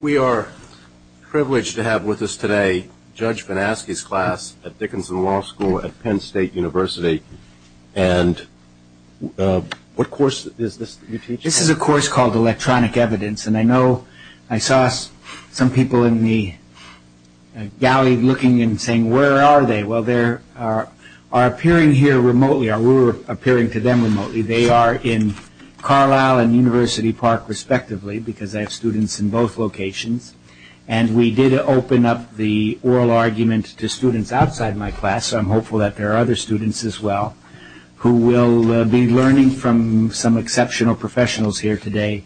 We are privileged to have with us today Judge Banaski's class at Dickinson Law School at Penn State University. And what course is this that you're teaching? This is a course called Electronic Evidence. And I know I saw some people in the galley looking and saying, where are they? Well, they are appearing here remotely, or we're appearing to them remotely. They are in Carlisle and University Park, respectively, because I have students in both locations. And we did open up the oral argument to students outside my class, so I'm hopeful that there are other students as well, who will be learning from some exceptional professionals here today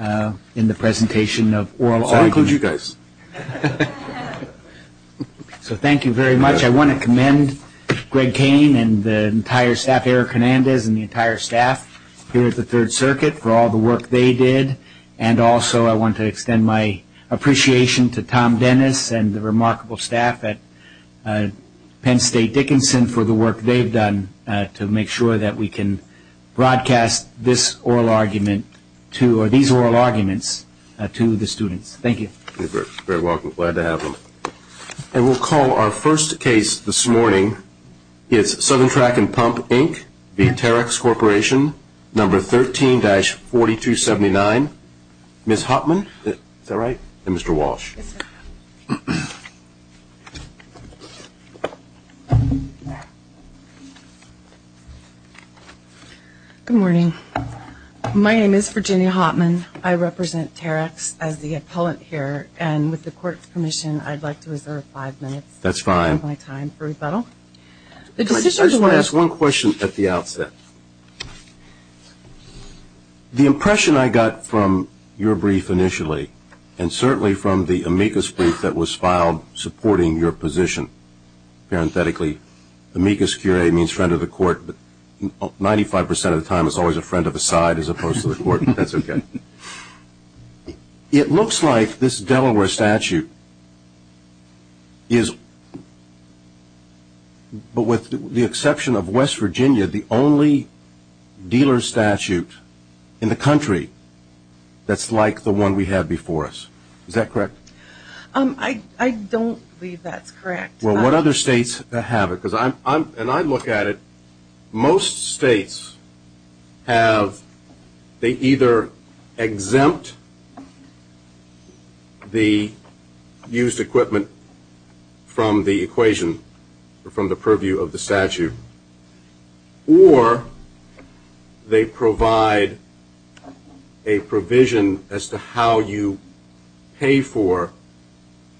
in the presentation of oral arguments. I'll include you guys. So thank you very much. I want to commend Greg Kane and the entire staff, Eric Hernandez and the entire staff, here at the Third Circuit for all the work they did. And also I want to extend my appreciation to Tom Dennis and the remarkable staff at Penn State Dickinson for the work they've done to make sure that we can broadcast these oral arguments to the students. Thank you. You're very welcome. Glad to have them. And we'll call our first case this morning. It's Southern Track and Pump, Inc. v. Terex Corporation, number 13-4279. Ms. Hopman, is that right? And Mr. Walsh. Yes, sir. Good morning. My name is Virginia Hopman. I represent Terex as the appellant here. And with the court's permission, I'd like to reserve five minutes of my time for rebuttal. I just want to ask one question at the outset. The impression I got from your brief initially, and certainly from the amicus brief that was filed supporting your position, parenthetically, amicus curiae means friend of the court, but 95% of the time it's always a friend of the side as opposed to the court. That's okay. It looks like this Delaware statute is, but with the exception of West Virginia, the only dealer statute in the country that's like the one we had before us. Is that correct? I don't believe that's correct. Well, what other states have it? And I look at it, most states have, they either exempt the used equipment from the equation, or from the purview of the statute, or they provide a provision as to how you pay for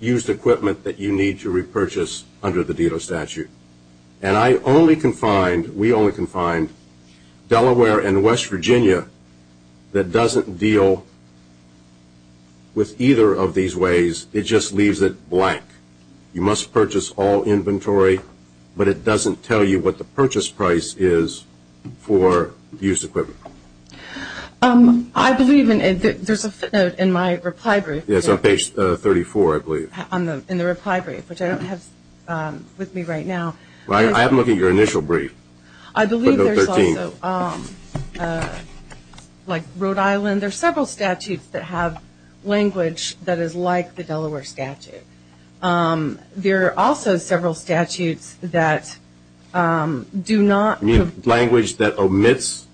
used equipment that you need to repurchase under the dealer statute. And I only can find, we only can find, Delaware and West Virginia that doesn't deal with either of these ways. It just leaves it blank. You must purchase all inventory, but it doesn't tell you what the purchase price is for used equipment. I believe there's a footnote in my reply brief. It's on page 34, I believe. In the reply brief, which I don't have with me right now. I haven't looked at your initial brief. I believe there's also, like Rhode Island, there's several statutes that have language that is like the Delaware statute. There are also several statutes that do not. You mean language that omits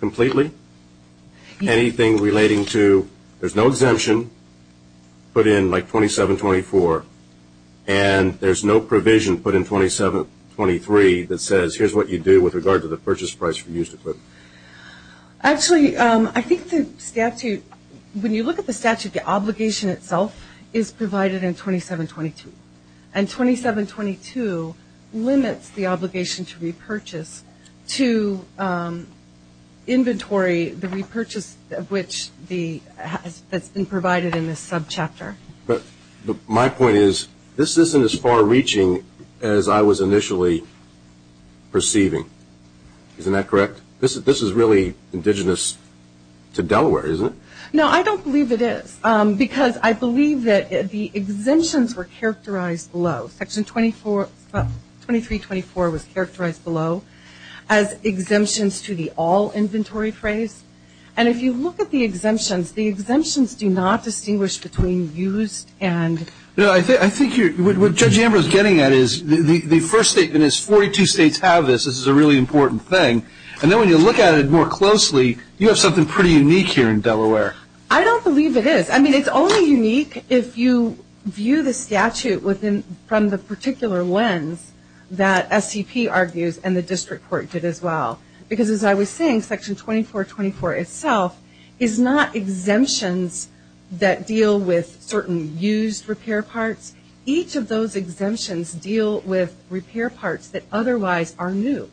completely? Anything relating to there's no exemption put in like 2724, and there's no provision put in 2723 that says here's what you do with regard to the purchase price for used equipment. Actually, I think the statute, when you look at the statute, the obligation itself is provided in 2722. And 2722 limits the obligation to repurchase to inventory the repurchase that's been provided in this subchapter. But my point is, this isn't as far reaching as I was initially perceiving. Isn't that correct? This is really indigenous to Delaware, isn't it? No, I don't believe it is, because I believe that the exemptions were characterized below. Section 2324 was characterized below as exemptions to the all inventory phrase. And if you look at the exemptions, the exemptions do not distinguish between used and... I think what Judge Amber is getting at is the first statement is 42 states have this. This is a really important thing. And then when you look at it more closely, you have something pretty unique here in Delaware. I don't believe it is. I mean, it's only unique if you view the statute from the particular lens that SCP argues and the district court did as well. Because as I was saying, Section 2424 itself is not exemptions that deal with certain used repair parts. Each of those exemptions deal with repair parts that otherwise are new.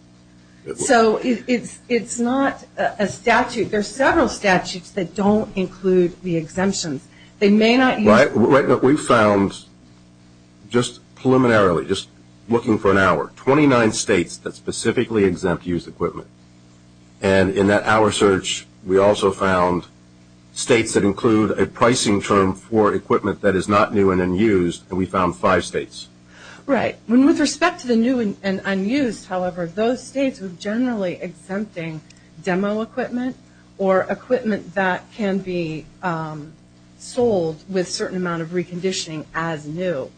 So it's not a statute. There are several statutes that don't include the exemptions. They may not use... Right. We found just preliminarily, just looking for an hour, 29 states that specifically exempt used equipment. And in that hour search, we also found states that include a pricing term for equipment that is not new and unused. And we found five states. Right. With respect to the new and unused, however, those states are generally exempting demo equipment or equipment that can be sold with a certain amount of reconditioning as new.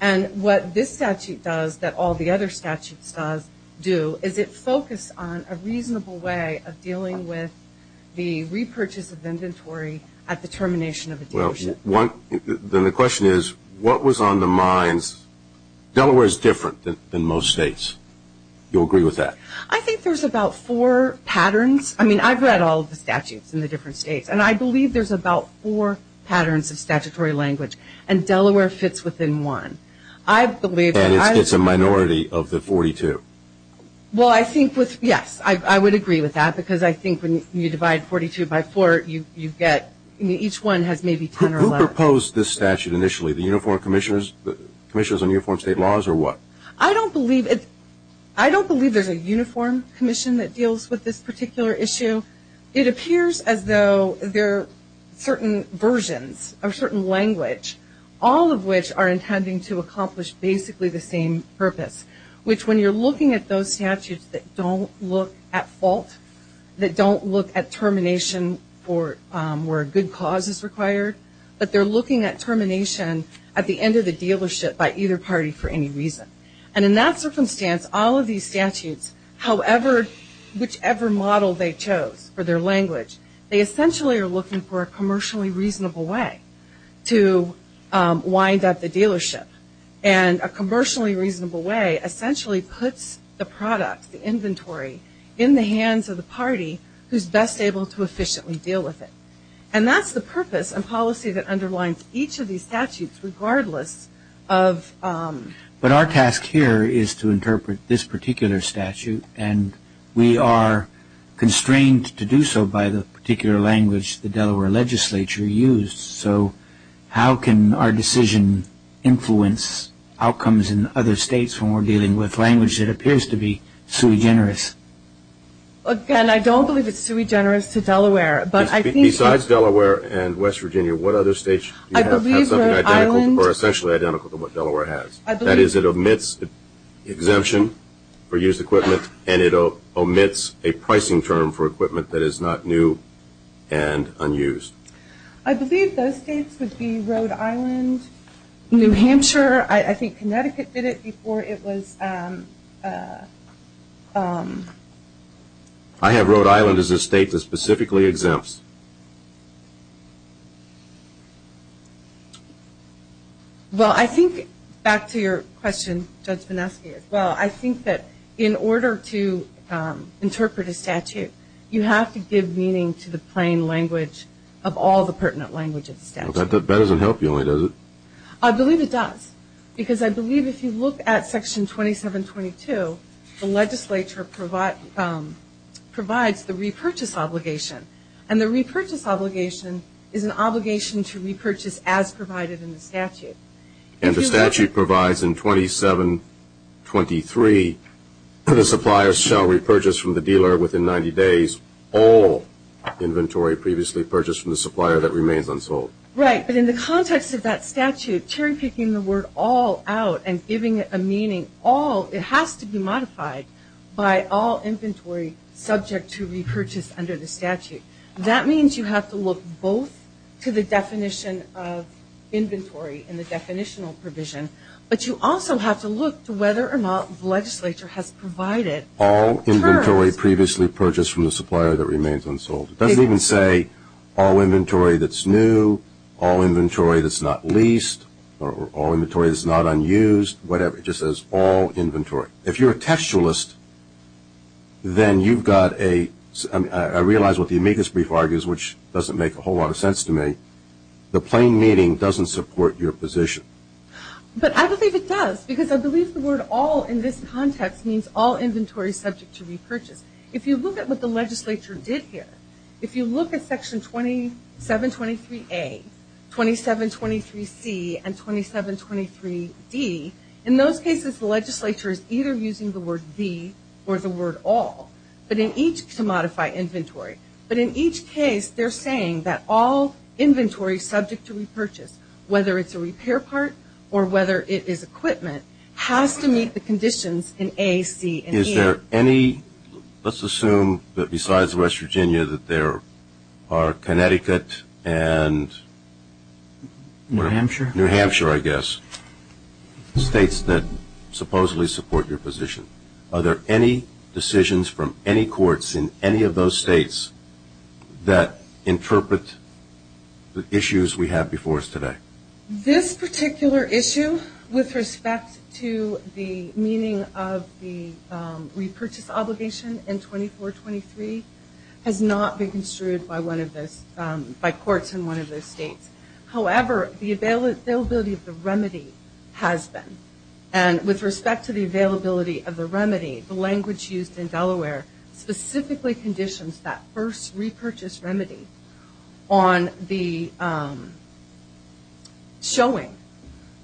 And what this statute does that all the other statutes do is it focuses on a reasonable way of dealing with the repurchase of inventory at the termination of a dealership. Well, the question is, what was on the minds... Delaware is different than most states. Do you agree with that? I think there's about four patterns. I mean, I've read all of the statutes in the different states. And I believe there's about four patterns of statutory language. And Delaware fits within one. I believe that... And it's a minority of the 42. Well, I think with... Yes, I would agree with that because I think when you divide 42 by four, you get... I mean, each one has maybe 10 or less. Who proposed this statute initially, the Uniform Commissioners... Commissioners on Uniform State Laws or what? I don't believe it. I don't believe there's a Uniform Commission that deals with this particular issue. It appears as though there are certain versions or certain language, all of which are intending to accomplish basically the same purpose, which when you're looking at those statutes that don't look at fault, that don't look at termination where a good cause is required, but they're looking at termination at the end of the dealership by either party for any reason. And in that circumstance, all of these statutes, however, whichever model they chose for their language, they essentially are looking for a commercially reasonable way to wind up the dealership. And a commercially reasonable way essentially puts the product, the inventory, in the hands of the party who's best able to efficiently deal with it. And that's the purpose and policy that underlines each of these statutes regardless of... But our task here is to interpret this particular statute, and we are constrained to do so by the particular language the Delaware legislature used. So how can our decision influence outcomes in other states when we're dealing with language that appears to be sui generis? Again, I don't believe it's sui generis to Delaware. Besides Delaware and West Virginia, what other states have something identical or essentially identical to what Delaware has? That is, it omits exemption for used equipment, and it omits a pricing term for equipment that is not new and unused. I believe those states would be Rhode Island, New Hampshire. I think Connecticut did it before it was... I have Rhode Island as a state that specifically exempts. Well, I think, back to your question, Judge Vineski, well, I think that in order to interpret a statute, you have to give meaning to the plain language of all the pertinent language of the statute. That doesn't help you, does it? I believe it does, because I believe if you look at Section 2722, the legislature provides the repurchase obligation. And the repurchase obligation is an obligation to repurchase as provided in the statute. And the statute provides in 2723, the supplier shall repurchase from the dealer within 90 days all inventory previously purchased from the supplier that remains unsold. Right, but in the context of that statute, cherry-picking the word all out and giving it a meaning, all, it has to be modified by all inventory subject to repurchase under the statute. That means you have to look both to the definition of inventory and the definitional provision, but you also have to look to whether or not the legislature has provided... All inventory previously purchased from the supplier that remains unsold. It doesn't even say all inventory that's new, all inventory that's not leased, or all inventory that's not unused, whatever. It just says all inventory. If you're a textualist, then you've got a... I realize what the amicus brief argues, which doesn't make a whole lot of sense to me. The plain meaning doesn't support your position. But I believe it does, because I believe the word all in this context means all inventory subject to repurchase. If you look at what the legislature did here, if you look at Section 2723A, 2723C, and 2723D, in those cases the legislature is either using the word be or the word all, but in each to modify inventory. But in each case they're saying that all inventory subject to repurchase, whether it's a repair part or whether it is equipment, has to meet the conditions in A, C, and E. Is there any... let's assume that besides West Virginia that there are Connecticut and... New Hampshire. New Hampshire, I guess. States that supposedly support your position. Are there any decisions from any courts in any of those states that interpret the issues we have before us today? This particular issue with respect to the meaning of the repurchase obligation in 2423 has not been construed by courts in one of those states. However, the availability of the remedy has been. And with respect to the availability of the remedy, the language used in Delaware specifically conditions that first repurchase remedy on the showing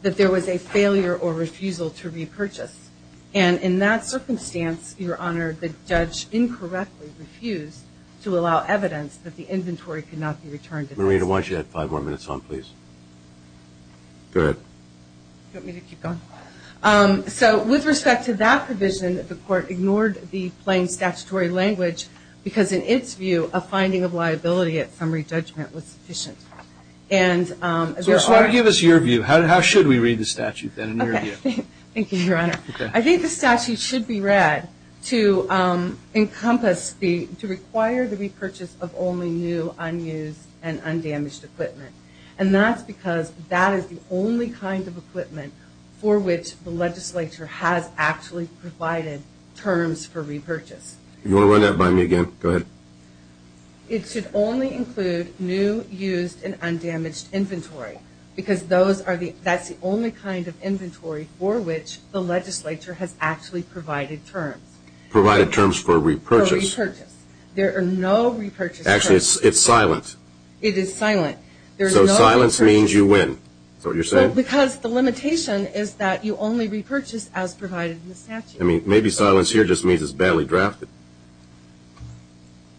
that there was a failure or refusal to repurchase. And in that circumstance, Your Honor, the judge incorrectly refused to allow evidence that the inventory could not be returned. Marina, why don't you add five more minutes on, please? Go ahead. Do you want me to keep going? So with respect to that provision, the court ignored the plain statutory language because in its view a finding of liability at summary judgment was sufficient. And there are... So just give us your view. How should we read the statute then in your view? Thank you, Your Honor. I think the statute should be read to encompass the, to require the repurchase of only new, unused, and undamaged equipment. And that's because that is the only kind of equipment for which the legislature has actually provided terms for repurchase. Do you want to run that by me again? Go ahead. It should only include new, used, and undamaged inventory because that's the only kind of inventory for which the legislature has actually provided terms. Provided terms for repurchase. For repurchase. There are no repurchase terms. Actually, it's silent. It is silent. So silence means you win. Is that what you're saying? Well, because the limitation is that you only repurchase as provided in the statute. I mean, maybe silence here just means it's badly drafted.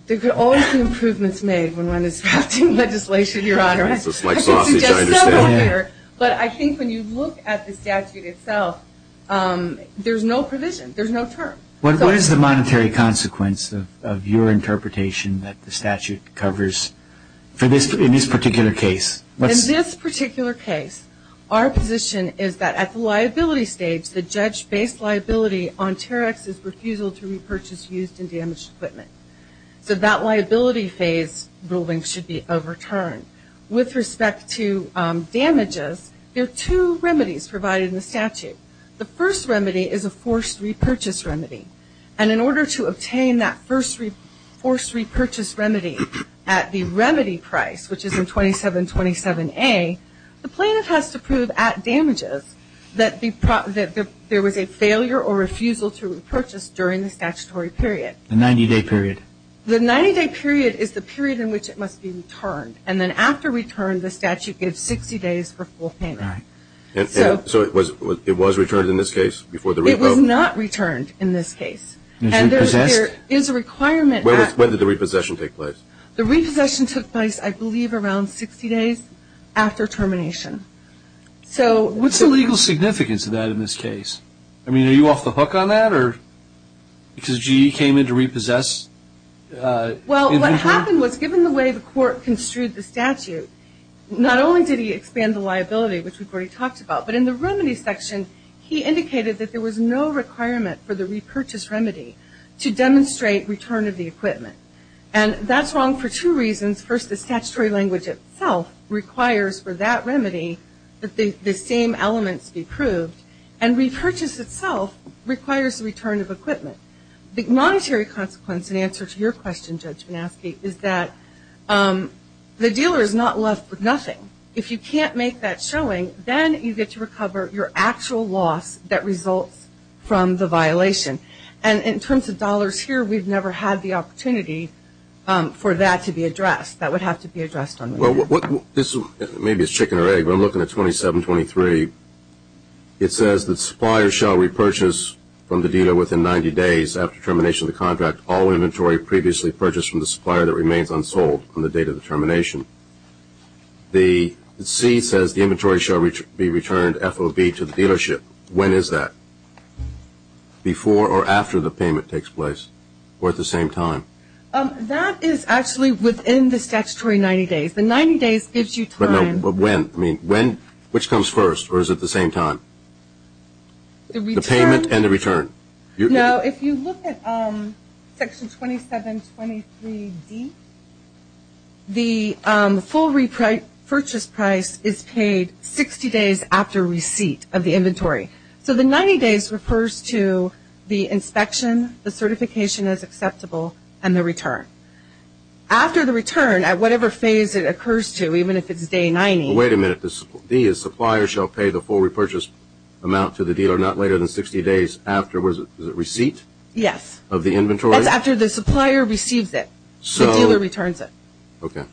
There could always be improvements made when one is drafting legislation, Your Honor. This is like sausage, I understand. But I think when you look at the statute itself, there's no provision. There's no term. What is the monetary consequence of your interpretation that the statute covers in this particular case? In this particular case, our position is that at the liability stage, the judge-based liability on TAREX is refusal to repurchase used and damaged equipment. So that liability phase ruling should be overturned. With respect to damages, there are two remedies provided in the statute. The first remedy is a forced repurchase remedy. And in order to obtain that forced repurchase remedy at the remedy price, which is in 2727A, the plaintiff has to prove at damages that there was a failure or refusal to repurchase during the statutory period. The 90-day period. The 90-day period is the period in which it must be returned. And then after return, the statute gives 60 days for full payment. Right. So it was returned in this case before the repo? It was not returned in this case. And there is a requirement. When did the repossession take place? The repossession took place, I believe, around 60 days after termination. So what's the legal significance of that in this case? I mean, are you off the hook on that? Because GE came in to repossess? Well, what happened was, given the way the court construed the statute, not only did he expand the liability, which we've already talked about, but in the remedy section, he indicated that there was no requirement for the repurchase remedy to demonstrate return of the equipment. And that's wrong for two reasons. First, the statutory language itself requires for that remedy that the same elements be proved. And repurchase itself requires the return of equipment. The monetary consequence in answer to your question, Judge Manaske, is that the dealer is not left with nothing. If you can't make that showing, then you get to recover your actual loss that results from the violation. And in terms of dollars here, we've never had the opportunity for that to be addressed. That would have to be addressed. Maybe it's chicken or egg, but I'm looking at 2723. It says that suppliers shall repurchase from the dealer within 90 days after termination of the contract all inventory previously purchased from the supplier that remains unsold on the date of the termination. The C says the inventory shall be returned FOB to the dealership. When is that? Before or after the payment takes place? Or at the same time? That is actually within the statutory 90 days. The 90 days gives you time. When? Which comes first, or is it the same time? The payment and the return. No, if you look at Section 2723D, the full repurchase price is paid 60 days after receipt of the inventory. So the 90 days refers to the inspection, the certification as acceptable, and the return. After the return, at whatever phase it occurs to, even if it's day 90. Wait a minute. The D is supplier shall pay the full repurchase amount to the dealer not later than 60 days afterwards. Is it receipt? Yes. Of the inventory? That's after the supplier receives it, the dealer returns it. Okay.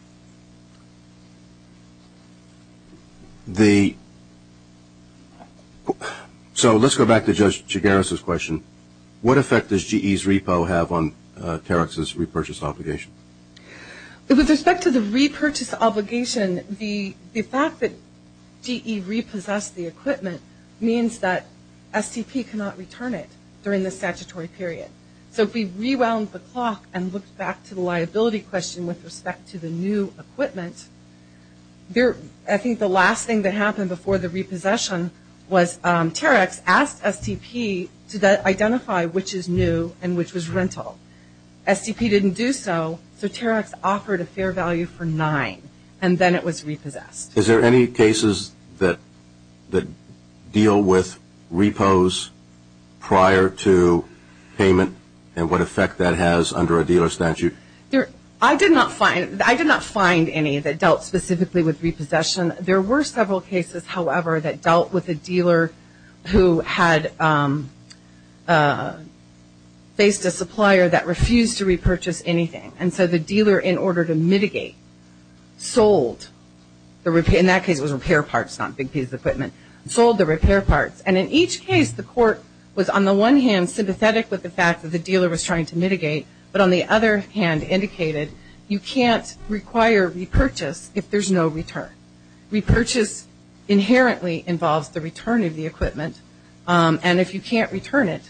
So let's go back to Judge Chigares' question. What effect does GE's repo have on Terex's repurchase obligation? With respect to the repurchase obligation, the fact that GE repossessed the equipment means that STP cannot return it during the statutory period. So if we rewound the clock and looked back to the liability question with respect to the new equipment, I think the last thing that happened before the repossession was Terex asked STP to identify which is new and which was rental. STP didn't do so, so Terex offered a fair value for nine, and then it was repossessed. Is there any cases that deal with repos prior to payment and what effect that has under a dealer statute? I did not find any that dealt specifically with repossession. There were several cases, however, that dealt with a dealer who had faced a supplier that refused to repurchase anything. And so the dealer, in order to mitigate, sold. In that case, it was repair parts, not a big piece of equipment. Sold the repair parts. And in each case, the court was on the one hand sympathetic with the fact that the dealer was trying to mitigate, but on the other hand indicated you can't require repurchase if there's no return. Repurchase inherently involves the return of the equipment, and if you can't return it,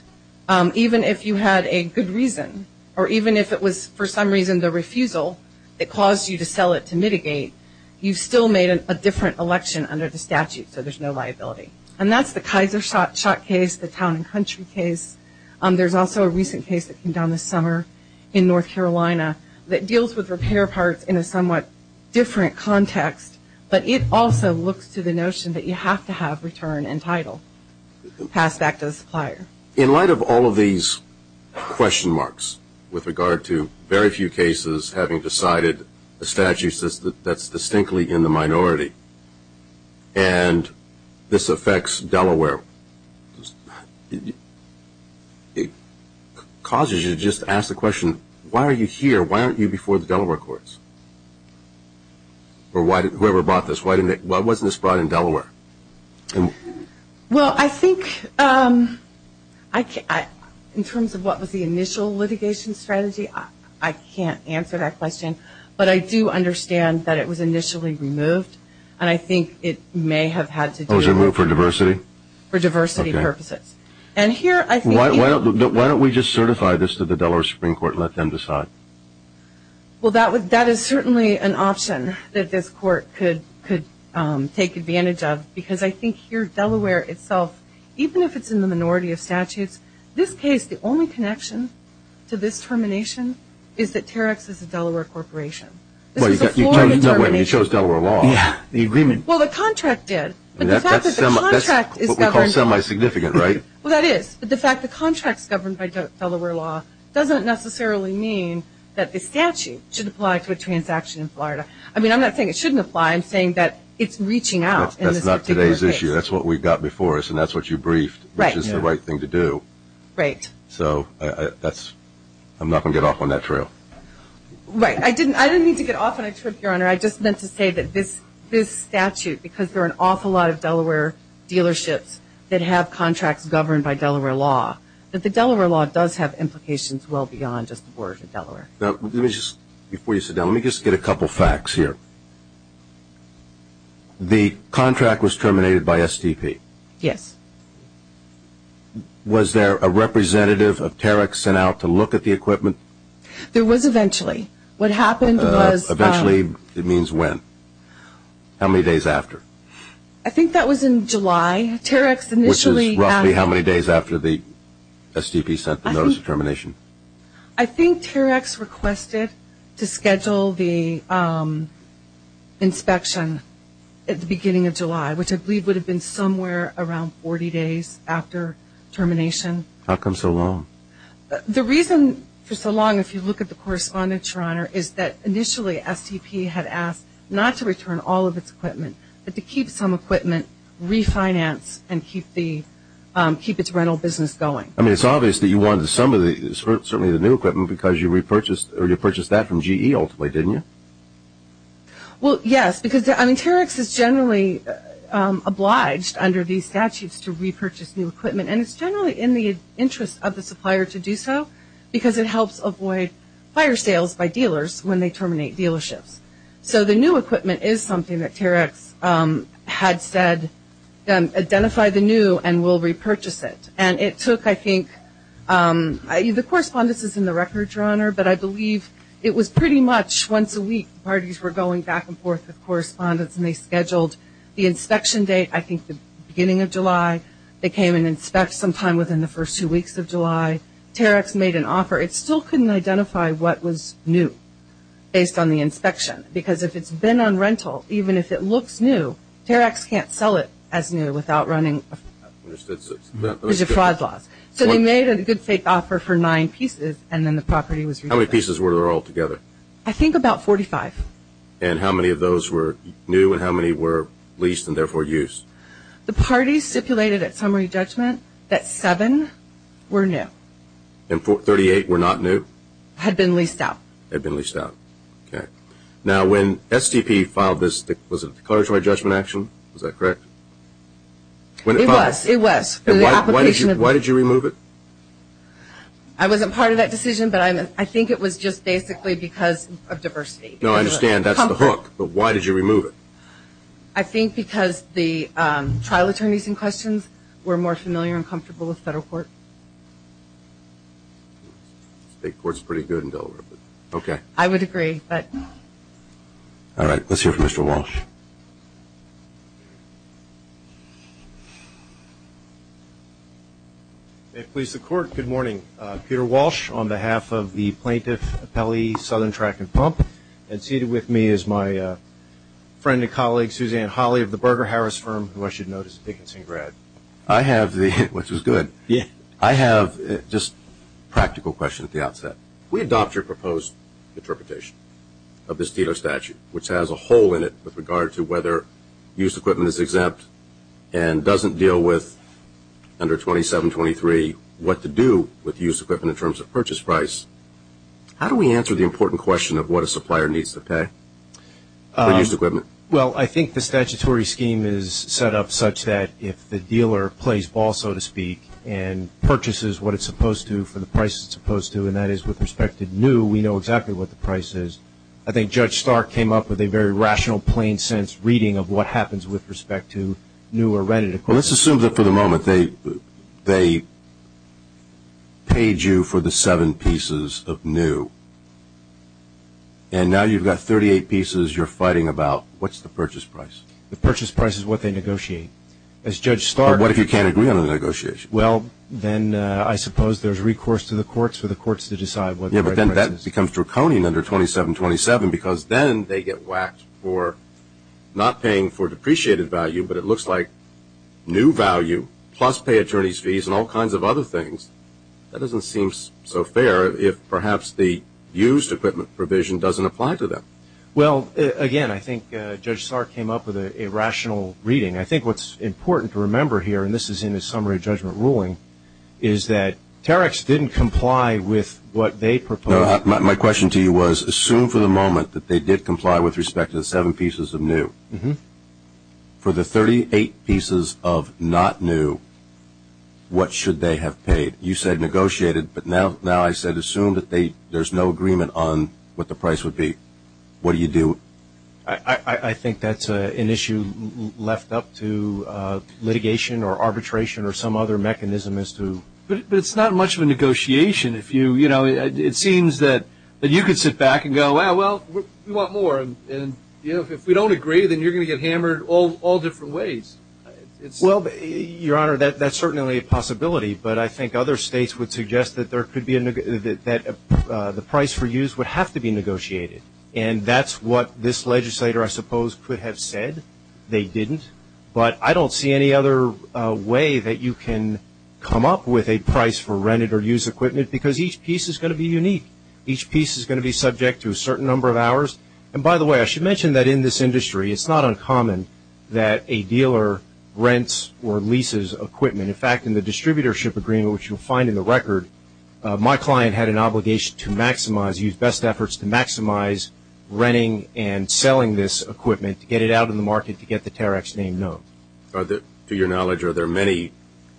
even if you had a good reason or even if it was for some reason the refusal that caused you to sell it to mitigate, you still made a different election under the statute, so there's no liability. And that's the Kaiser shot case, the town and country case. There's also a recent case that came down this summer in North Carolina that deals with repair parts in a somewhat different context, but it also looks to the notion that you have to have return and title passed back to the supplier. In light of all of these question marks with regard to very few cases having decided a statute that's distinctly in the minority and this affects Delaware, it causes you to just ask the question, why are you here? Why aren't you before the Delaware courts? Or whoever brought this, why wasn't this brought in Delaware? Well, I think in terms of what was the initial litigation strategy, I can't answer that question, but I do understand that it was initially removed, and I think it may have had to do with diversity purposes. Why don't we just certify this to the Delaware Supreme Court and let them decide? Well, that is certainly an option that this court could take advantage of, because I think here Delaware itself, even if it's in the minority of statutes, this case, the only connection to this termination is that Terex is a Delaware corporation. This is a Florida termination. No, wait a minute. You chose Delaware law. Yeah. The agreement. Well, the contract did. That's what we call semi-significant, right? Well, that is. But the fact the contract is governed by Delaware law doesn't necessarily mean that the statute should apply to a transaction in Florida. I mean, I'm not saying it shouldn't apply. I'm saying that it's reaching out in this particular case. That's not today's issue. That's what we've got before us, and that's what you briefed, which is the right thing to do. Right. So I'm not going to get off on that trail. Right. I didn't mean to get off on a trip, Your Honor. I just meant to say that this statute, because there are an awful lot of Delaware dealerships that have contracts governed by Delaware law, that the Delaware law does have implications well beyond just the board of Delaware. Before you sit down, let me just get a couple facts here. The contract was terminated by STP. Yes. Was there a representative of Terex sent out to look at the equipment? There was eventually. What happened was – Eventually means when? How many days after? I think that was in July. Terex initially – I think Terex requested to schedule the inspection at the beginning of July, which I believe would have been somewhere around 40 days after termination. How come so long? The reason for so long, if you look at the correspondence, Your Honor, is that initially STP had asked not to return all of its equipment, but to keep some equipment, refinance, and keep its rental business going. I mean, it's obvious that you wanted some of these, certainly the new equipment, because you repurchased that from GE ultimately, didn't you? Well, yes, because Terex is generally obliged under these statutes to repurchase new equipment, and it's generally in the interest of the supplier to do so because it helps avoid fire sales by dealers when they terminate dealerships. So the new equipment is something that Terex had said, identify the new and we'll repurchase it. And it took, I think – the correspondence is in the records, Your Honor, but I believe it was pretty much once a week parties were going back and forth with correspondence and they scheduled the inspection date, I think the beginning of July. They came and inspected sometime within the first two weeks of July. Terex made an offer. It still couldn't identify what was new based on the inspection, because if it's been on rental, even if it looks new, Terex can't sell it as new without running – because of fraud laws. So they made a good fake offer for nine pieces, and then the property was repurchased. How many pieces were there altogether? I think about 45. And how many of those were new and how many were leased and therefore used? The parties stipulated at summary judgment that seven were new. And 38 were not new? Had been leased out. Had been leased out. Okay. Now, when STP filed this, was it a declaratory judgment action? Was that correct? It was. It was. Why did you remove it? I wasn't part of that decision, but I think it was just basically because of diversity. No, I understand. That's the hook. But why did you remove it? I think because the trial attorneys in question were more familiar and comfortable with federal court. State court's pretty good in Delaware. Okay. I would agree. All right. Let's hear from Mr. Walsh. May it please the Court, good morning. Peter Walsh on behalf of the Plaintiff Appellee Southern Tract and Pump. And seated with me is my friend and colleague, Suzanne Holley, of the Berger Harris Firm, who I should note is a Dickinson grad. I have the – which is good. I have just a practical question at the outset. We adopt your proposed interpretation of this dealer statute, which has a hole in it with regard to whether used equipment is exempt and doesn't deal with under 2723 what to do with used equipment in terms of purchase price. How do we answer the important question of what a supplier needs to pay for used equipment? Well, I think the statutory scheme is set up such that if the dealer plays ball, so to speak, and purchases what it's supposed to for the price it's supposed to, and that is with respect to new, we know exactly what the price is. I think Judge Stark came up with a very rational, plain-sense reading of what happens with respect to new or rented equipment. Well, let's assume that for the moment they paid you for the seven pieces of new, and now you've got 38 pieces you're fighting about. What's the purchase price? The purchase price is what they negotiate. But what if you can't agree on a negotiation? Well, then I suppose there's recourse to the courts for the courts to decide what the purchase price is. Yes, but then that becomes draconian under 2727 because then they get whacked for not paying for depreciated value, but it looks like new value plus pay attorney's fees and all kinds of other things. That doesn't seem so fair if perhaps the used equipment provision doesn't apply to them. Well, again, I think Judge Stark came up with a rational reading. I think what's important to remember here, and this is in the summary judgment ruling, is that Tareks didn't comply with what they proposed. My question to you was assume for the moment that they did comply with respect to the seven pieces of new. For the 38 pieces of not new, what should they have paid? You said negotiated, but now I said assume that there's no agreement on what the price would be. What do you do? I think that's an issue left up to litigation or arbitration or some other mechanism as to. But it's not much of a negotiation. It seems that you could sit back and go, well, we want more, and if we don't agree then you're going to get hammered all different ways. Well, Your Honor, that's certainly a possibility, but I think other states would suggest that the price for use would have to be negotiated, and that's what this legislator, I suppose, could have said. They didn't. But I don't see any other way that you can come up with a price for rented or used equipment because each piece is going to be unique. Each piece is going to be subject to a certain number of hours. And by the way, I should mention that in this industry it's not uncommon that a dealer rents or leases equipment. In fact, in the distributorship agreement, which you'll find in the record, my client had an obligation to maximize, use best efforts to maximize renting and selling this equipment to get it out on the market to get the T.A.R.A.C.S. name known. To your knowledge, are there many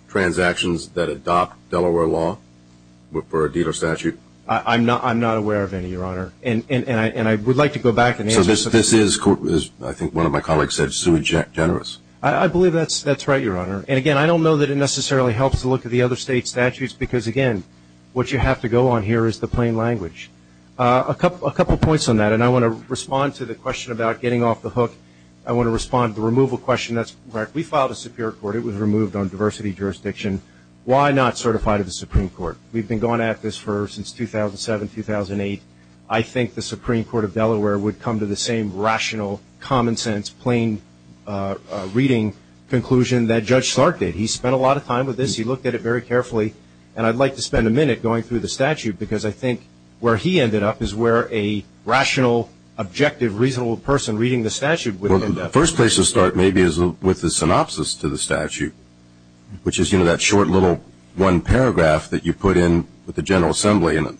transactions that adopt Delaware law for a dealer statute? I'm not aware of any, Your Honor, and I would like to go back and answer some questions. So this is, I think one of my colleagues said, sui generis. I believe that's right, Your Honor. And, again, I don't know that it necessarily helps to look at the other state statutes because, again, what you have to go on here is the plain language. A couple points on that, and I want to respond to the question about getting off the hook. I want to respond to the removal question. We filed a superior court. It was removed on diversity jurisdiction. Why not certify to the Supreme Court? We've been going at this since 2007, 2008. I think the Supreme Court of Delaware would come to the same rational, common sense, plain reading conclusion that Judge Clark did. He spent a lot of time with this. He looked at it very carefully. And I'd like to spend a minute going through the statute because I think where he ended up is where a rational, objective, reasonable person reading the statute would end up. Well, the first place to start maybe is with the synopsis to the statute, which is, you know, that short little one paragraph that you put in with the General Assembly, and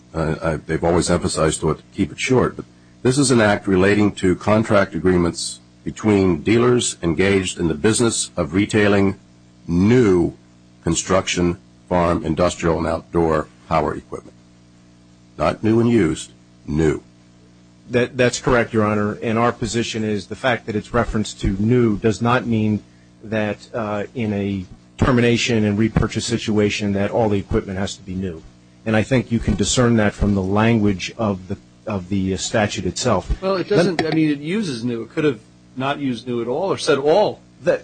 they've always emphasized to keep it short. This is an act relating to contract agreements between dealers engaged in the business of retailing new construction, farm, industrial, and outdoor power equipment. Not new and used, new. That's correct, Your Honor. And our position is the fact that it's referenced to new does not mean that in a termination and repurchase situation that all the equipment has to be new. And I think you can discern that from the language of the statute itself. Well, it doesn't. I mean, it uses new. It could have not used new at all or said all. I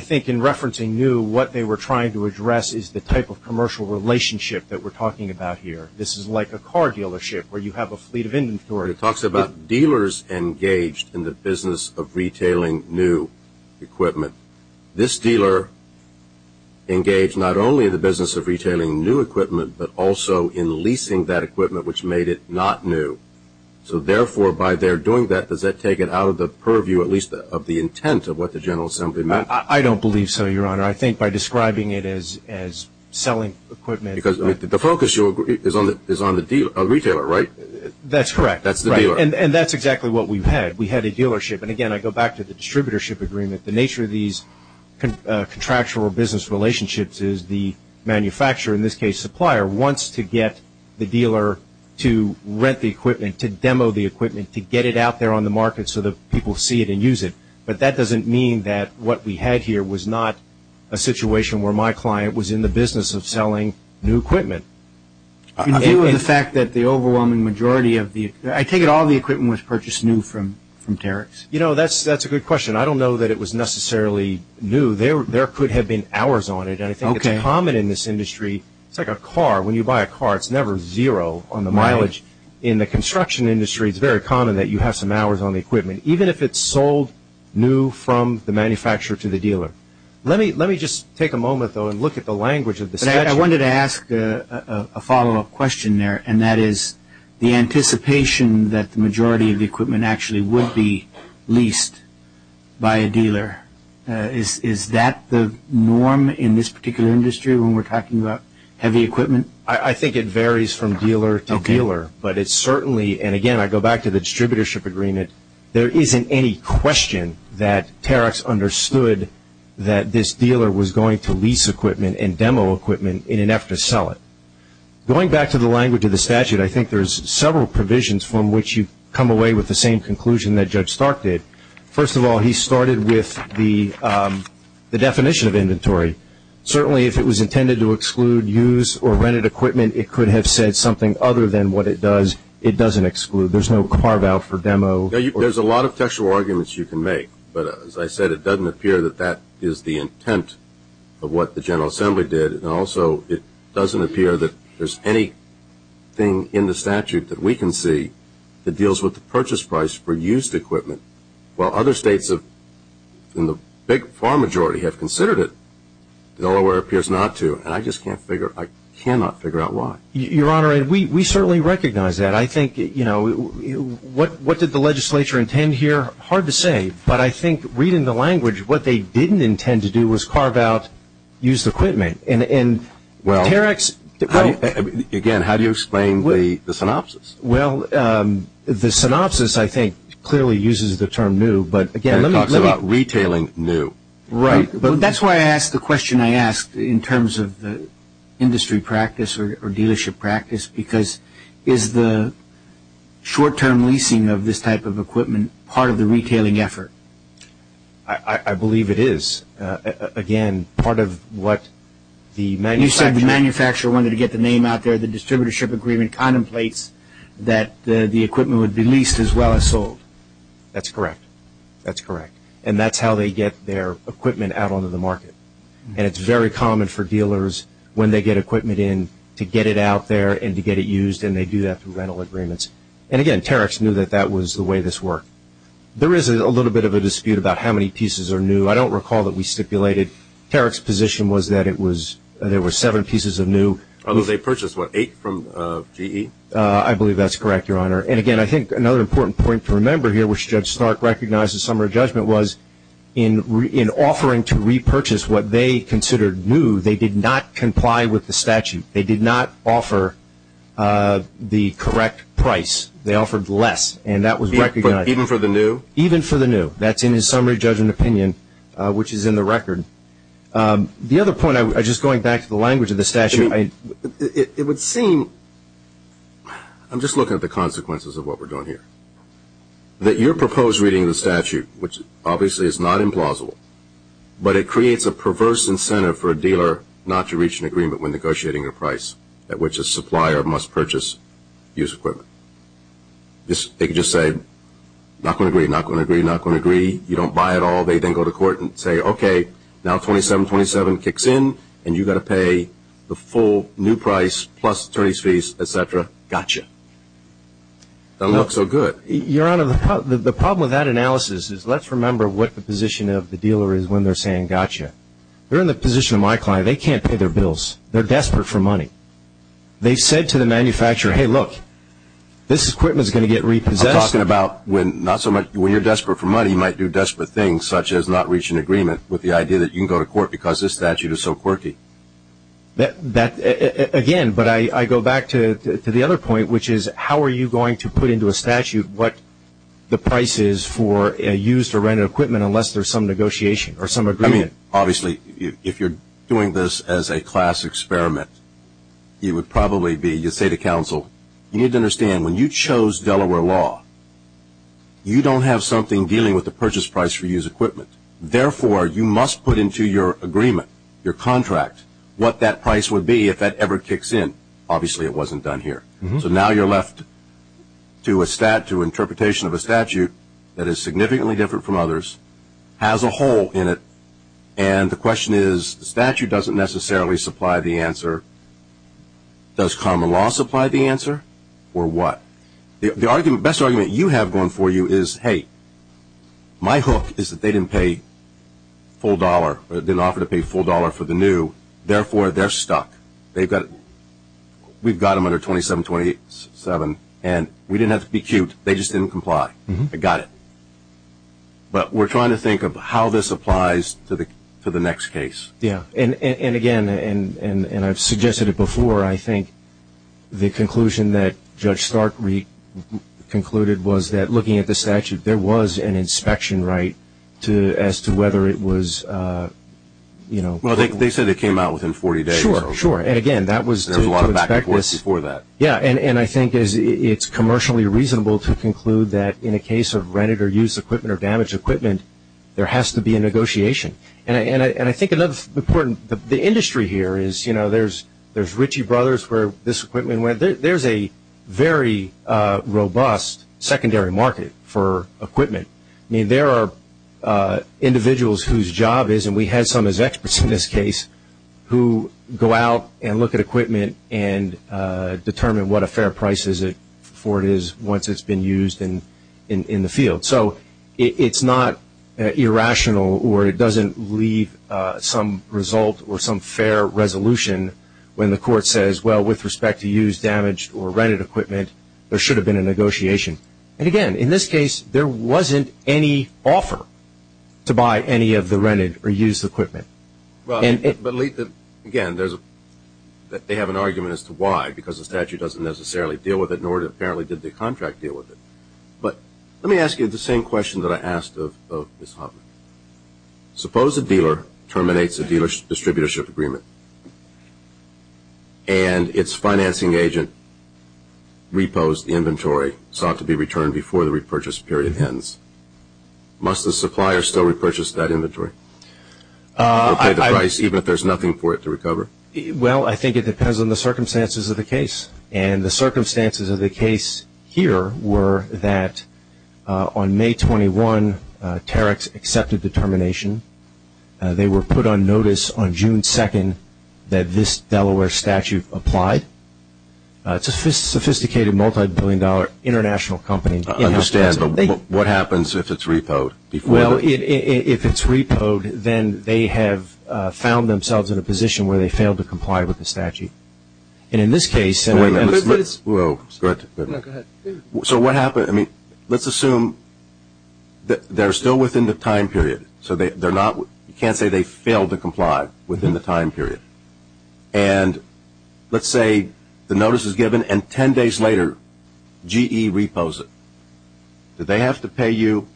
think in referencing new, what they were trying to address is the type of commercial relationship that we're talking about here. This is like a car dealership where you have a fleet of inventory. It talks about dealers engaged in the business of retailing new equipment. This dealer engaged not only in the business of retailing new equipment, but also in leasing that equipment which made it not new. So, therefore, by their doing that, does that take it out of the purview, at least of the intent of what the General Assembly meant? I don't believe so, Your Honor. I think by describing it as selling equipment. Because the focus is on the retailer, right? That's correct. That's the dealer. And that's exactly what we've had. We had a dealership. And, again, I go back to the distributorship agreement. The nature of these contractual business relationships is the manufacturer, in this case supplier, wants to get the dealer to rent the equipment, to demo the equipment, to get it out there on the market so that people see it and use it. But that doesn't mean that what we had here was not a situation where my client was in the business of selling new equipment. In view of the fact that the overwhelming majority of the – I take it all the equipment was purchased new from Tariq's? You know, that's a good question. I don't know that it was necessarily new. There could have been hours on it. And I think it's common in this industry. It's like a car. When you buy a car, it's never zero on the mileage. In the construction industry, it's very common that you have some hours on the equipment, even if it's sold new from the manufacturer to the dealer. Let me just take a moment, though, and look at the language of the statute. I wanted to ask a follow-up question there, and that is the anticipation that the majority of the equipment actually would be leased by a dealer. Is that the norm in this particular industry when we're talking about heavy equipment? I think it varies from dealer to dealer. But it certainly – and, again, I go back to the distributorship agreement. There isn't any question that Tariq's understood that this dealer was going to lease equipment and demo equipment in an effort to sell it. Going back to the language of the statute, I think there's several provisions from which you come away with the same conclusion that Judge Stark did. First of all, he started with the definition of inventory. Certainly, if it was intended to exclude used or rented equipment, it could have said something other than what it does. It doesn't exclude. There's no carve-out for demo. There's a lot of textual arguments you can make. But, as I said, it doesn't appear that that is the intent of what the General Assembly did. And, also, it doesn't appear that there's anything in the statute that we can see that deals with the purchase price for used equipment. While other states in the big, far majority have considered it, Delaware appears not to. And I just can't figure – I cannot figure out why. Your Honor, we certainly recognize that. I think, you know, what did the legislature intend here? Hard to say. But I think, reading the language, what they didn't intend to do was carve out used equipment. And, again, how do you explain the synopsis? Well, the synopsis, I think, clearly uses the term new. But, again, let me – It talks about retailing new. Right. That's why I asked the question I asked in terms of the industry practice or dealership practice, because is the short-term leasing of this type of equipment part of the retailing effort? I believe it is. Again, part of what the manufacturer – You said the manufacturer wanted to get the name out there. The distributorship agreement contemplates that the equipment would be leased as well as sold. That's correct. That's correct. And that's how they get their equipment out onto the market. And it's very common for dealers, when they get equipment in, to get it out there and to get it used, and they do that through rental agreements. And, again, Terex knew that that was the way this worked. There is a little bit of a dispute about how many pieces are new. I don't recall that we stipulated. Terex's position was that it was – there were seven pieces of new. Although they purchased, what, eight from GE? I believe that's correct, Your Honor. And, again, I think another important point to remember here, which Judge Stark recognized in summary judgment was in offering to repurchase what they considered new, they did not comply with the statute. They did not offer the correct price. They offered less, and that was recognized. Even for the new? Even for the new. That's in his summary judgment opinion, which is in the record. The other point, just going back to the language of the statute, it would seem – I'm just looking at the consequences of what we're doing here. That your proposed reading of the statute, which obviously is not implausible, but it creates a perverse incentive for a dealer not to reach an agreement when negotiating a price at which a supplier must purchase used equipment. They could just say, not going to agree, not going to agree, not going to agree. You don't buy it all. They then go to court and say, okay, now 2727 kicks in, and you've got to pay the full new price plus attorney's fees, et cetera. Gotcha. That looks so good. Your Honor, the problem with that analysis is let's remember what the position of the dealer is when they're saying gotcha. They're in the position of my client. They can't pay their bills. They're desperate for money. They said to the manufacturer, hey, look, this equipment is going to get repossessed. I'm talking about when you're desperate for money, you might do desperate things, such as not reach an agreement with the idea that you can go to court because this statute is so quirky. Again, but I go back to the other point, which is how are you going to put into a statute what the price is for used or rented equipment unless there's some negotiation or some agreement. Obviously, if you're doing this as a class experiment, you would probably be, you'd say to counsel, you need to understand when you chose Delaware law, you don't have something dealing with the purchase price for used equipment. Therefore, you must put into your agreement, your contract, what that price would be if that ever kicks in. Obviously, it wasn't done here. So now you're left to a stat, to interpretation of a statute that is significantly different from others, has a hole in it, and the question is the statute doesn't necessarily supply the answer. Does common law supply the answer or what? The best argument you have going for you is, hey, my hook is that they didn't pay full dollar, didn't offer to pay full dollar for the new, therefore, they're stuck. We've got them under 2727, and we didn't have to be cute. They just didn't comply. I got it. But we're trying to think of how this applies to the next case. Yeah, and again, and I've suggested it before, I think the conclusion that Judge Stark re-concluded was that, looking at the statute, there was an inspection right as to whether it was, you know. Well, they said it came out within 40 days. Sure, sure, and again, that was to expect this. There was a lot of back and forth before that. Yeah, and I think it's commercially reasonable to conclude that in a case of rented or used equipment or damaged equipment, there has to be a negotiation. And I think another important, the industry here is, you know, there's Ritchie Brothers where this equipment went. There's a very robust secondary market for equipment. I mean, there are individuals whose job is, and we had some as experts in this case, who go out and look at equipment and determine what a fair price is for it once it's been used in the field. So it's not irrational or it doesn't leave some result or some fair resolution when the court says, well, with respect to used, damaged, or rented equipment, there should have been a negotiation. And again, in this case, there wasn't any offer to buy any of the rented or used equipment. Well, I believe that, again, they have an argument as to why, because the statute doesn't necessarily deal with it, nor apparently did the contract deal with it. But let me ask you the same question that I asked of Ms. Hoffman. Suppose a dealer terminates a dealership-distributorship agreement and its financing agent repos the inventory, sought to be returned before the repurchase period ends. Must the supplier still repurchase that inventory or pay the price even if there's nothing for it to recover? Well, I think it depends on the circumstances of the case. And the circumstances of the case here were that on May 21, Terex accepted the termination. They were put on notice on June 2 that this Delaware statute applied. It's a sophisticated, multibillion-dollar international company. I understand, but what happens if it's repoed? Well, if it's repoed, then they have found themselves in a position where they failed to comply with the statute. And in this case – Wait a minute. Go ahead. So what happens – I mean, let's assume they're still within the time period. So they're not – you can't say they failed to comply within the time period. And let's say the notice is given and 10 days later, GE repos it. Do they have to pay you,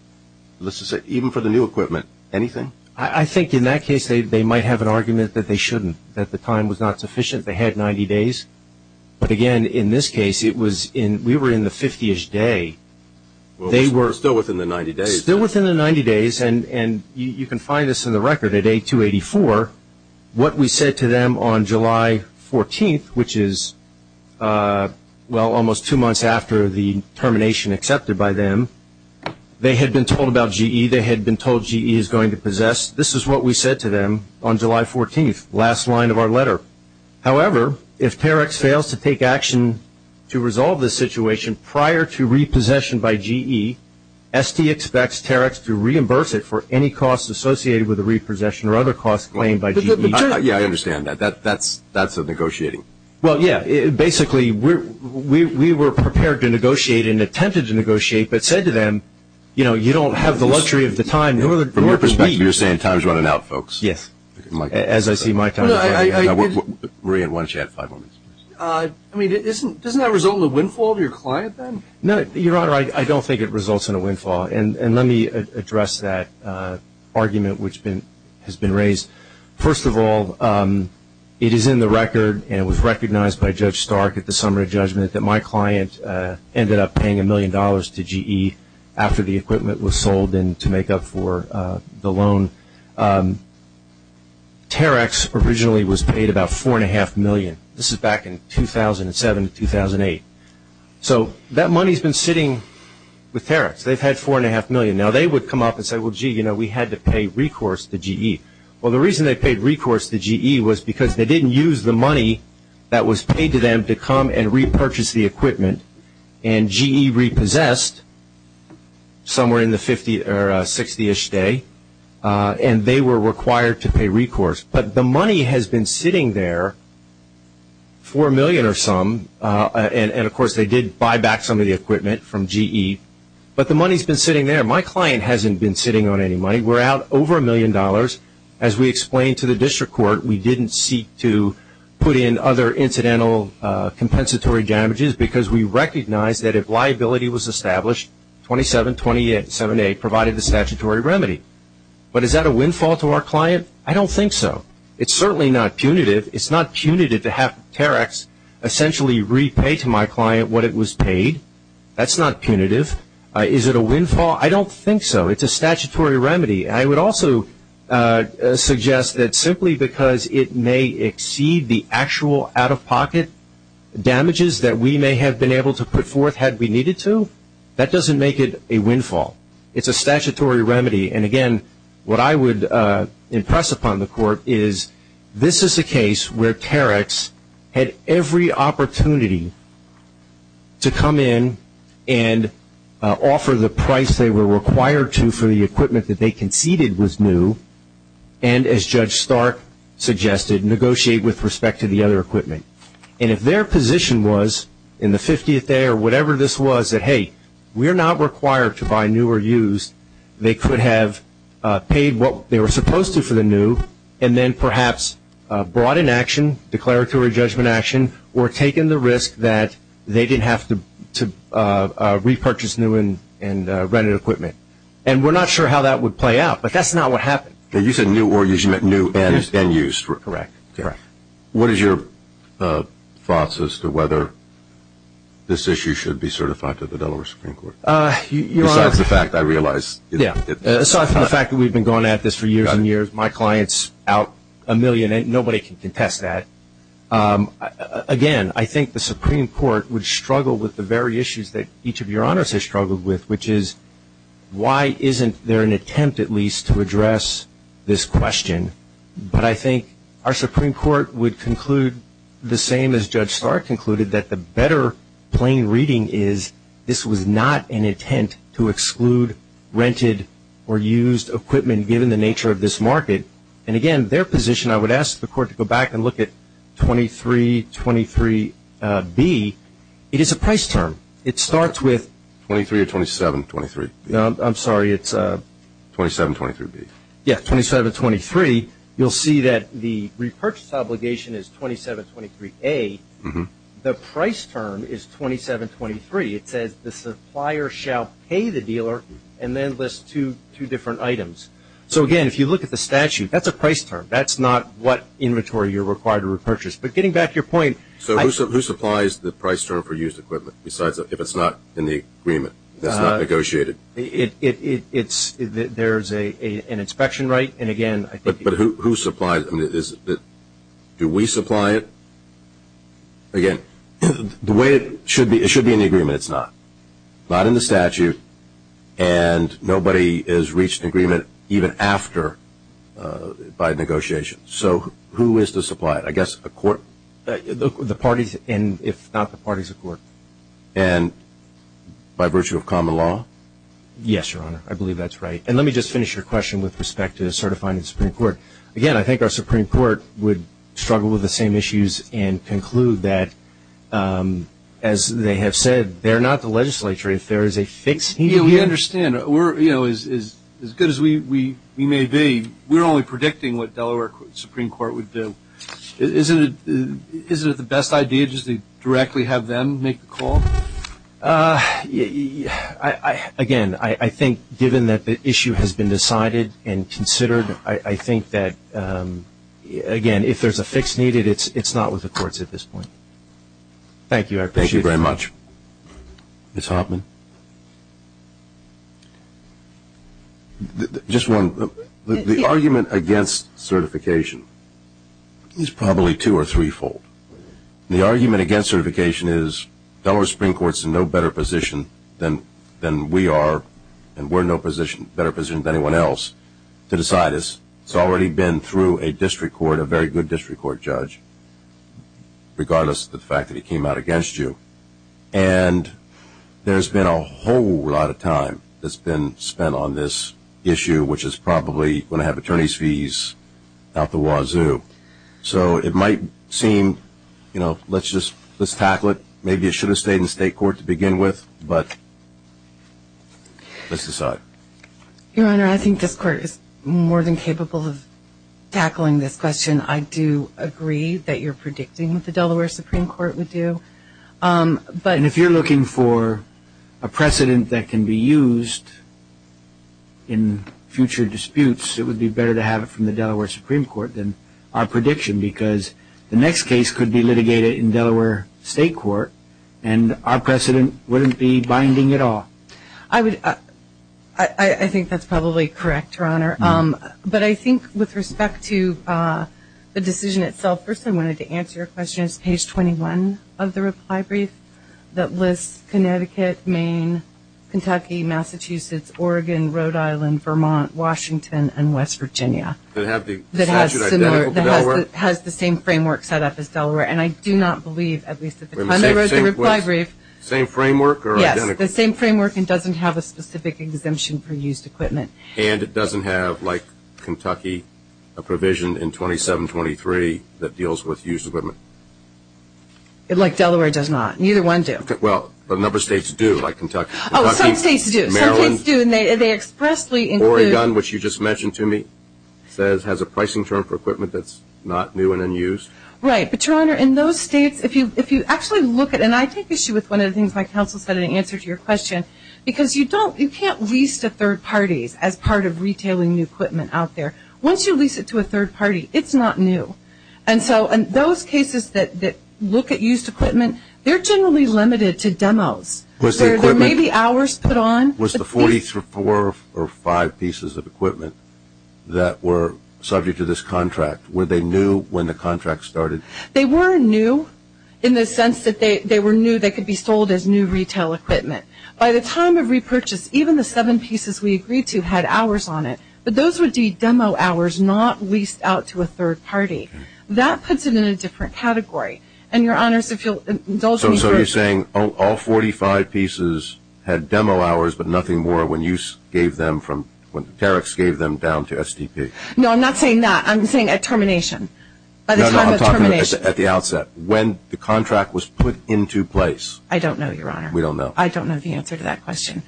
let's just say, even for the new equipment, anything? I think in that case they might have an argument that they shouldn't, that the time was not sufficient. They had 90 days. But, again, in this case, it was in – we were in the 50-ish day. They were – Still within the 90 days. Still within the 90 days. And you can find this in the record. At A284, what we said to them on July 14, which is, well, almost two months after the termination accepted by them, they had been told about GE, they had been told GE is going to possess. This is what we said to them on July 14, last line of our letter. However, if Terex fails to take action to resolve the situation prior to repossession by GE, ST expects Terex to reimburse it for any costs associated with the repossession or other costs claimed by GE. Yeah, I understand that. That's negotiating. Well, yeah. Basically, we were prepared to negotiate and attempted to negotiate, but said to them, you know, you don't have the luxury of the time. From your perspective, you're saying time is running out, folks. Yes. As I see my time is running out. Maria, why don't you add five more minutes? I mean, doesn't that result in a windfall to your client then? No, Your Honor, I don't think it results in a windfall. And let me address that argument which has been raised. First of all, it is in the record, and it was recognized by Judge Stark at the summary judgment, that my client ended up paying $1 million to GE after the equipment was sold to make up for the loan. Terex originally was paid about $4.5 million. This is back in 2007, 2008. So that money has been sitting with Terex. They've had $4.5 million. Now, they would come up and say, well, gee, you know, we had to pay recourse to GE. Well, the reason they paid recourse to GE was because they didn't use the money that was paid to them to come and repurchase the equipment. And GE repossessed somewhere in the 60-ish day, and they were required to pay recourse. But the money has been sitting there, $4 million or some. And, of course, they did buy back some of the equipment from GE. But the money has been sitting there. My client hasn't been sitting on any money. We're out over $1 million. As we explained to the district court, we didn't seek to put in other incidental compensatory damages because we recognize that if liability was established, 2728 provided the statutory remedy. But is that a windfall to our client? I don't think so. It's certainly not punitive. It's not punitive to have Terex essentially repay to my client what it was paid. That's not punitive. Is it a windfall? I don't think so. It's a statutory remedy. And I would also suggest that simply because it may exceed the actual out-of-pocket damages that we may have been able to put forth had we needed to, that doesn't make it a windfall. It's a statutory remedy. And, again, what I would impress upon the court is this is a case where Terex had every opportunity to come in and offer the price they were required to for the equipment that they conceded was new and, as Judge Stark suggested, negotiate with respect to the other equipment. And if their position was in the 50th day or whatever this was that, hey, we're not required to buy new or used, they could have paid what they were supposed to for the new and then perhaps brought in action, repurchase new and rented equipment. And we're not sure how that would play out, but that's not what happened. You said new or used. You meant new and used. Correct. What is your thoughts as to whether this issue should be certified to the Delaware Supreme Court? Besides the fact I realize it's not. Aside from the fact that we've been going at this for years and years, my client's out a million, and nobody can contest that. Again, I think the Supreme Court would struggle with the very issues that each of your honors has struggled with, which is why isn't there an attempt at least to address this question? But I think our Supreme Court would conclude the same as Judge Stark concluded, that the better plain reading is this was not an intent to exclude rented or used equipment given the nature of this market. And, again, their position, I would ask the Court to go back and look at 2323B. It is a price term. It starts with 23 or 2723? I'm sorry. It's 2723B. Yes, 2723. You'll see that the repurchase obligation is 2723A. The price term is 2723. It says the supplier shall pay the dealer and then list two different items. So, again, if you look at the statute, that's a price term. That's not what inventory you're required to repurchase. But getting back to your point. So who supplies the price term for used equipment besides if it's not in the agreement, it's not negotiated? There's an inspection right. And, again, I think. But who supplies it? Do we supply it? Again, the way it should be, it should be in the agreement. It's not. Not in the statute. And nobody has reached agreement even after by negotiation. So who is to supply it? I guess a court? The parties, and if not the parties, a court. And by virtue of common law? Yes, Your Honor. I believe that's right. And let me just finish your question with respect to certifying the Supreme Court. Again, I think our Supreme Court would struggle with the same issues and conclude that, as they have said, they're not the legislature if there is a fix needed. We understand. As good as we may be, we're only predicting what Delaware Supreme Court would do. Isn't it the best idea just to directly have them make the call? Again, I think given that the issue has been decided and considered, I think that, again, if there's a fix needed, it's not with the courts at this point. Thank you. I appreciate it. Thank you very much. Ms. Hoffman? Just one. The argument against certification is probably two- or three-fold. The argument against certification is Delaware Supreme Court is in no better position than we are, and we're in no better position than anyone else to decide this. It's already been through a district court, a very good district court judge, regardless of the fact that he came out against you. And there's been a whole lot of time that's been spent on this issue, which is probably going to have attorney's fees out the wazoo. So it might seem, you know, let's just tackle it. Maybe it should have stayed in state court to begin with, but let's decide. Your Honor, I think this court is more than capable of tackling this question. I do agree that you're predicting what the Delaware Supreme Court would do. And if you're looking for a precedent that can be used in future disputes, it would be better to have it from the Delaware Supreme Court than our prediction, because the next case could be litigated in Delaware state court, and our precedent wouldn't be binding at all. I think that's probably correct, Your Honor. But I think with respect to the decision itself, first I wanted to answer your question is page 21 of the reply brief that lists Connecticut, Maine, Kentucky, Massachusetts, Oregon, Rhode Island, Vermont, Washington, and West Virginia. That have the statute identical to Delaware? That has the same framework set up as Delaware. And I do not believe, at least at the time I wrote the reply brief. Same framework or identical? The same framework and doesn't have a specific exemption for used equipment. And it doesn't have, like Kentucky, a provision in 2723 that deals with used equipment? Like Delaware does not. Neither one does. Well, a number of states do, like Kentucky. Oh, some states do. Maryland. Some states do, and they expressly include. Oregon, which you just mentioned to me, has a pricing term for equipment that's not new and unused. Right. But, Your Honor, in those states, if you actually look at it, and I take issue with one of the things my counsel said in answer to your question, because you don't, you can't lease to third parties as part of retailing new equipment out there. Once you lease it to a third party, it's not new. And so those cases that look at used equipment, they're generally limited to demos. Was the equipment? Where there may be hours put on. Was the 44 or five pieces of equipment that were subject to this contract, were they new when the contract started? They were new in the sense that they were new. They could be sold as new retail equipment. By the time of repurchase, even the seven pieces we agreed to had hours on it. But those would be demo hours, not leased out to a third party. That puts it in a different category. And, Your Honors, if you'll indulge me further. So you're saying all 45 pieces had demo hours but nothing more when you gave them from, when Terex gave them down to STP? No, I'm not saying that. I'm saying at termination. No, no, I'm talking at the outset. When the contract was put into place. I don't know, Your Honor. We don't know. I don't know the answer to that question.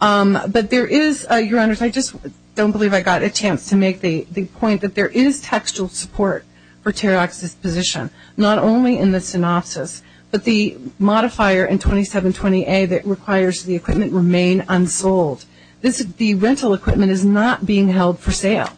But there is, Your Honors, I just don't believe I got a chance to make the point that there is textual support for Terex's position. Not only in the synopsis, but the modifier in 2720A that requires the equipment remain unsold. The rental equipment is not being held for sale.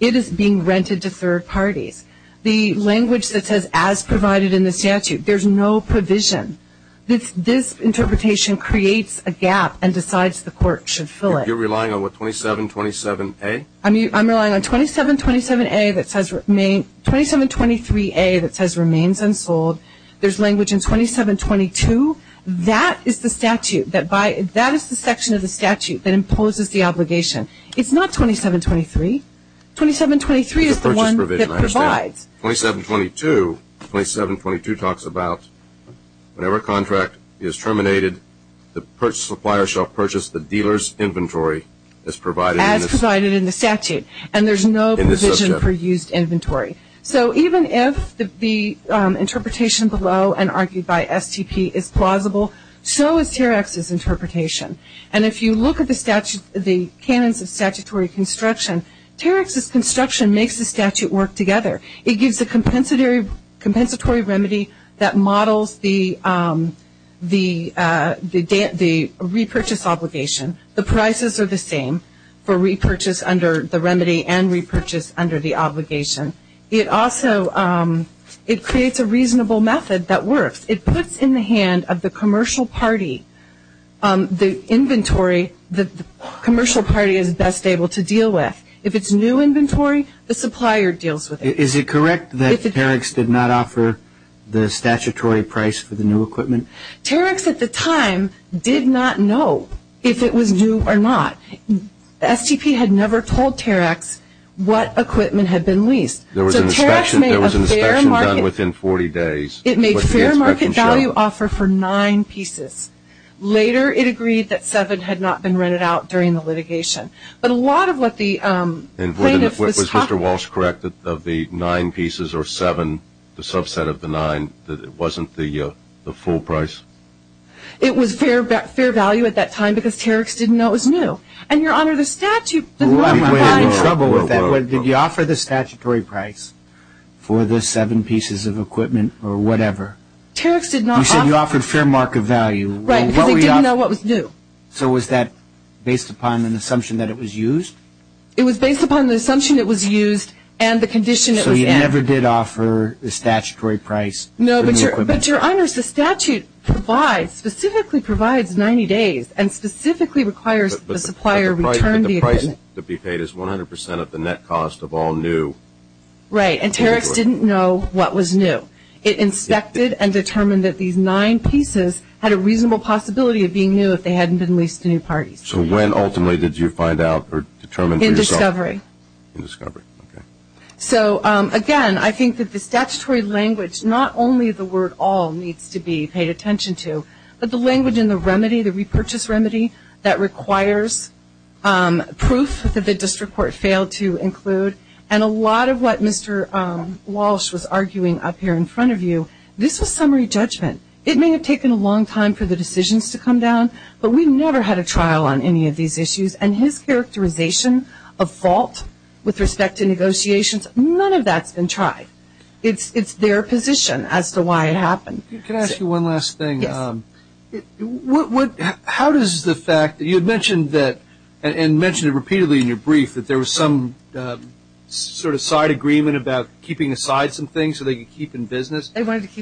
It is being rented to third parties. The language that says as provided in the statute, there's no provision. This interpretation creates a gap and decides the court should fill it. You're relying on what, 2727A? I'm relying on 2727A that says remain, 2723A that says remains unsold. There's language in 2722. That is the statute that by, that is the section of the statute that imposes the obligation. It's not 2723. 2723 is the one that provides. 2722, 2722 talks about whenever a contract is terminated, the purchase supplier shall purchase the dealer's inventory as provided in the statute. As provided in the statute. And there's no provision for used inventory. So even if the interpretation below and argued by STP is plausible, so is Terex's interpretation. And if you look at the statutes, the canons of statutory construction, Terex's construction makes the statute work together. It gives a compensatory remedy that models the repurchase obligation. The prices are the same for repurchase under the remedy and repurchase under the obligation. It also, it creates a reasonable method that works. It puts in the hand of the commercial party the inventory that the commercial party is best able to deal with. If it's new inventory, the supplier deals with it. Is it correct that Terex did not offer the statutory price for the new equipment? Terex at the time did not know if it was new or not. STP had never told Terex what equipment had been leased. There was an inspection done within 40 days. It made fair market value offer for nine pieces. Later it agreed that seven had not been rented out during the litigation. But a lot of what the plaintiff was talking about. And was Mr. Walsh correct that of the nine pieces or seven, the subset of the nine, that it wasn't the full price? It was fair value at that time because Terex didn't know it was new. And, Your Honor, the statute does not provide. Did you offer the statutory price for the seven pieces of equipment or whatever? Terex did not offer. You said you offered fair market value. Right, because he didn't know what was new. So was that based upon an assumption that it was used? It was based upon the assumption it was used and the condition it was in. So you never did offer the statutory price for the equipment? No, but, Your Honor, the statute provides, specifically provides 90 days and specifically requires the supplier return the equipment. But the price to be paid is 100% of the net cost of all new. Right, and Terex didn't know what was new. It inspected and determined that these nine pieces had a reasonable possibility of being new if they hadn't been leased to new parties. So when ultimately did you find out or determine for yourself? In discovery. In discovery, okay. So, again, I think that the statutory language, not only the word all needs to be paid attention to, but the language in the remedy, the repurchase remedy, that requires proof that the district court failed to include. And a lot of what Mr. Walsh was arguing up here in front of you, this was summary judgment. It may have taken a long time for the decisions to come down, but we never had a trial on any of these issues. And his characterization of fault with respect to negotiations, none of that's been tried. It's their position as to why it happened. Can I ask you one last thing? Yes. How does the fact that you had mentioned that and mentioned it repeatedly in your brief that there was some sort of side agreement about keeping aside some things so they could keep in business,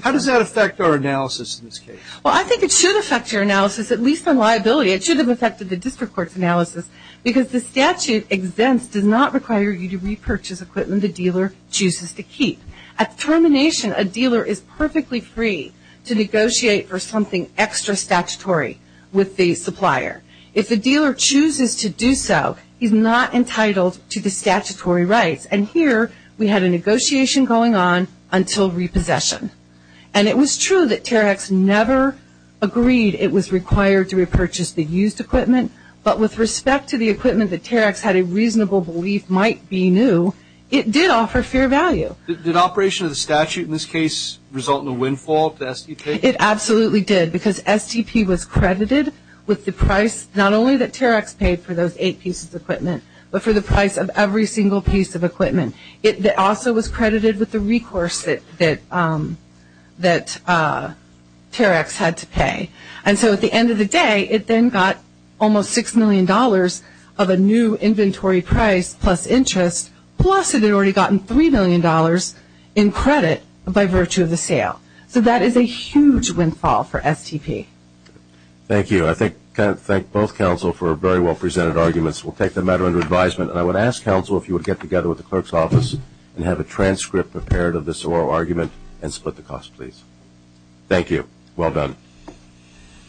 how does that affect our analysis in this case? Well, I think it should affect your analysis, at least on liability. It should have affected the district court's analysis because the statute exempts, does not require you to repurchase equipment the dealer chooses to keep. At termination, a dealer is perfectly free to negotiate for something extra statutory with the supplier. If the dealer chooses to do so, he's not entitled to the statutory rights. And here we had a negotiation going on until repossession. And it was true that Terahex never agreed it was required to repurchase the used equipment, but with respect to the equipment that Terahex had a reasonable belief might be new, it did offer fair value. Did operation of the statute in this case result in a windfall to SDP? It absolutely did because SDP was credited with the price, not only that Terahex paid for those eight pieces of equipment, but for the price of every single piece of equipment. It also was credited with the recourse that Terahex had to pay. And so at the end of the day, it then got almost $6 million of a new inventory price plus interest, plus it had already gotten $3 million in credit by virtue of the sale. So that is a huge windfall for SDP. Thank you. I thank both counsel for very well presented arguments. We'll take the matter under advisement. And I would ask counsel if you would get together with the clerk's office and have a transcript prepared of this oral argument and split the cost, please. Thank you. Well done.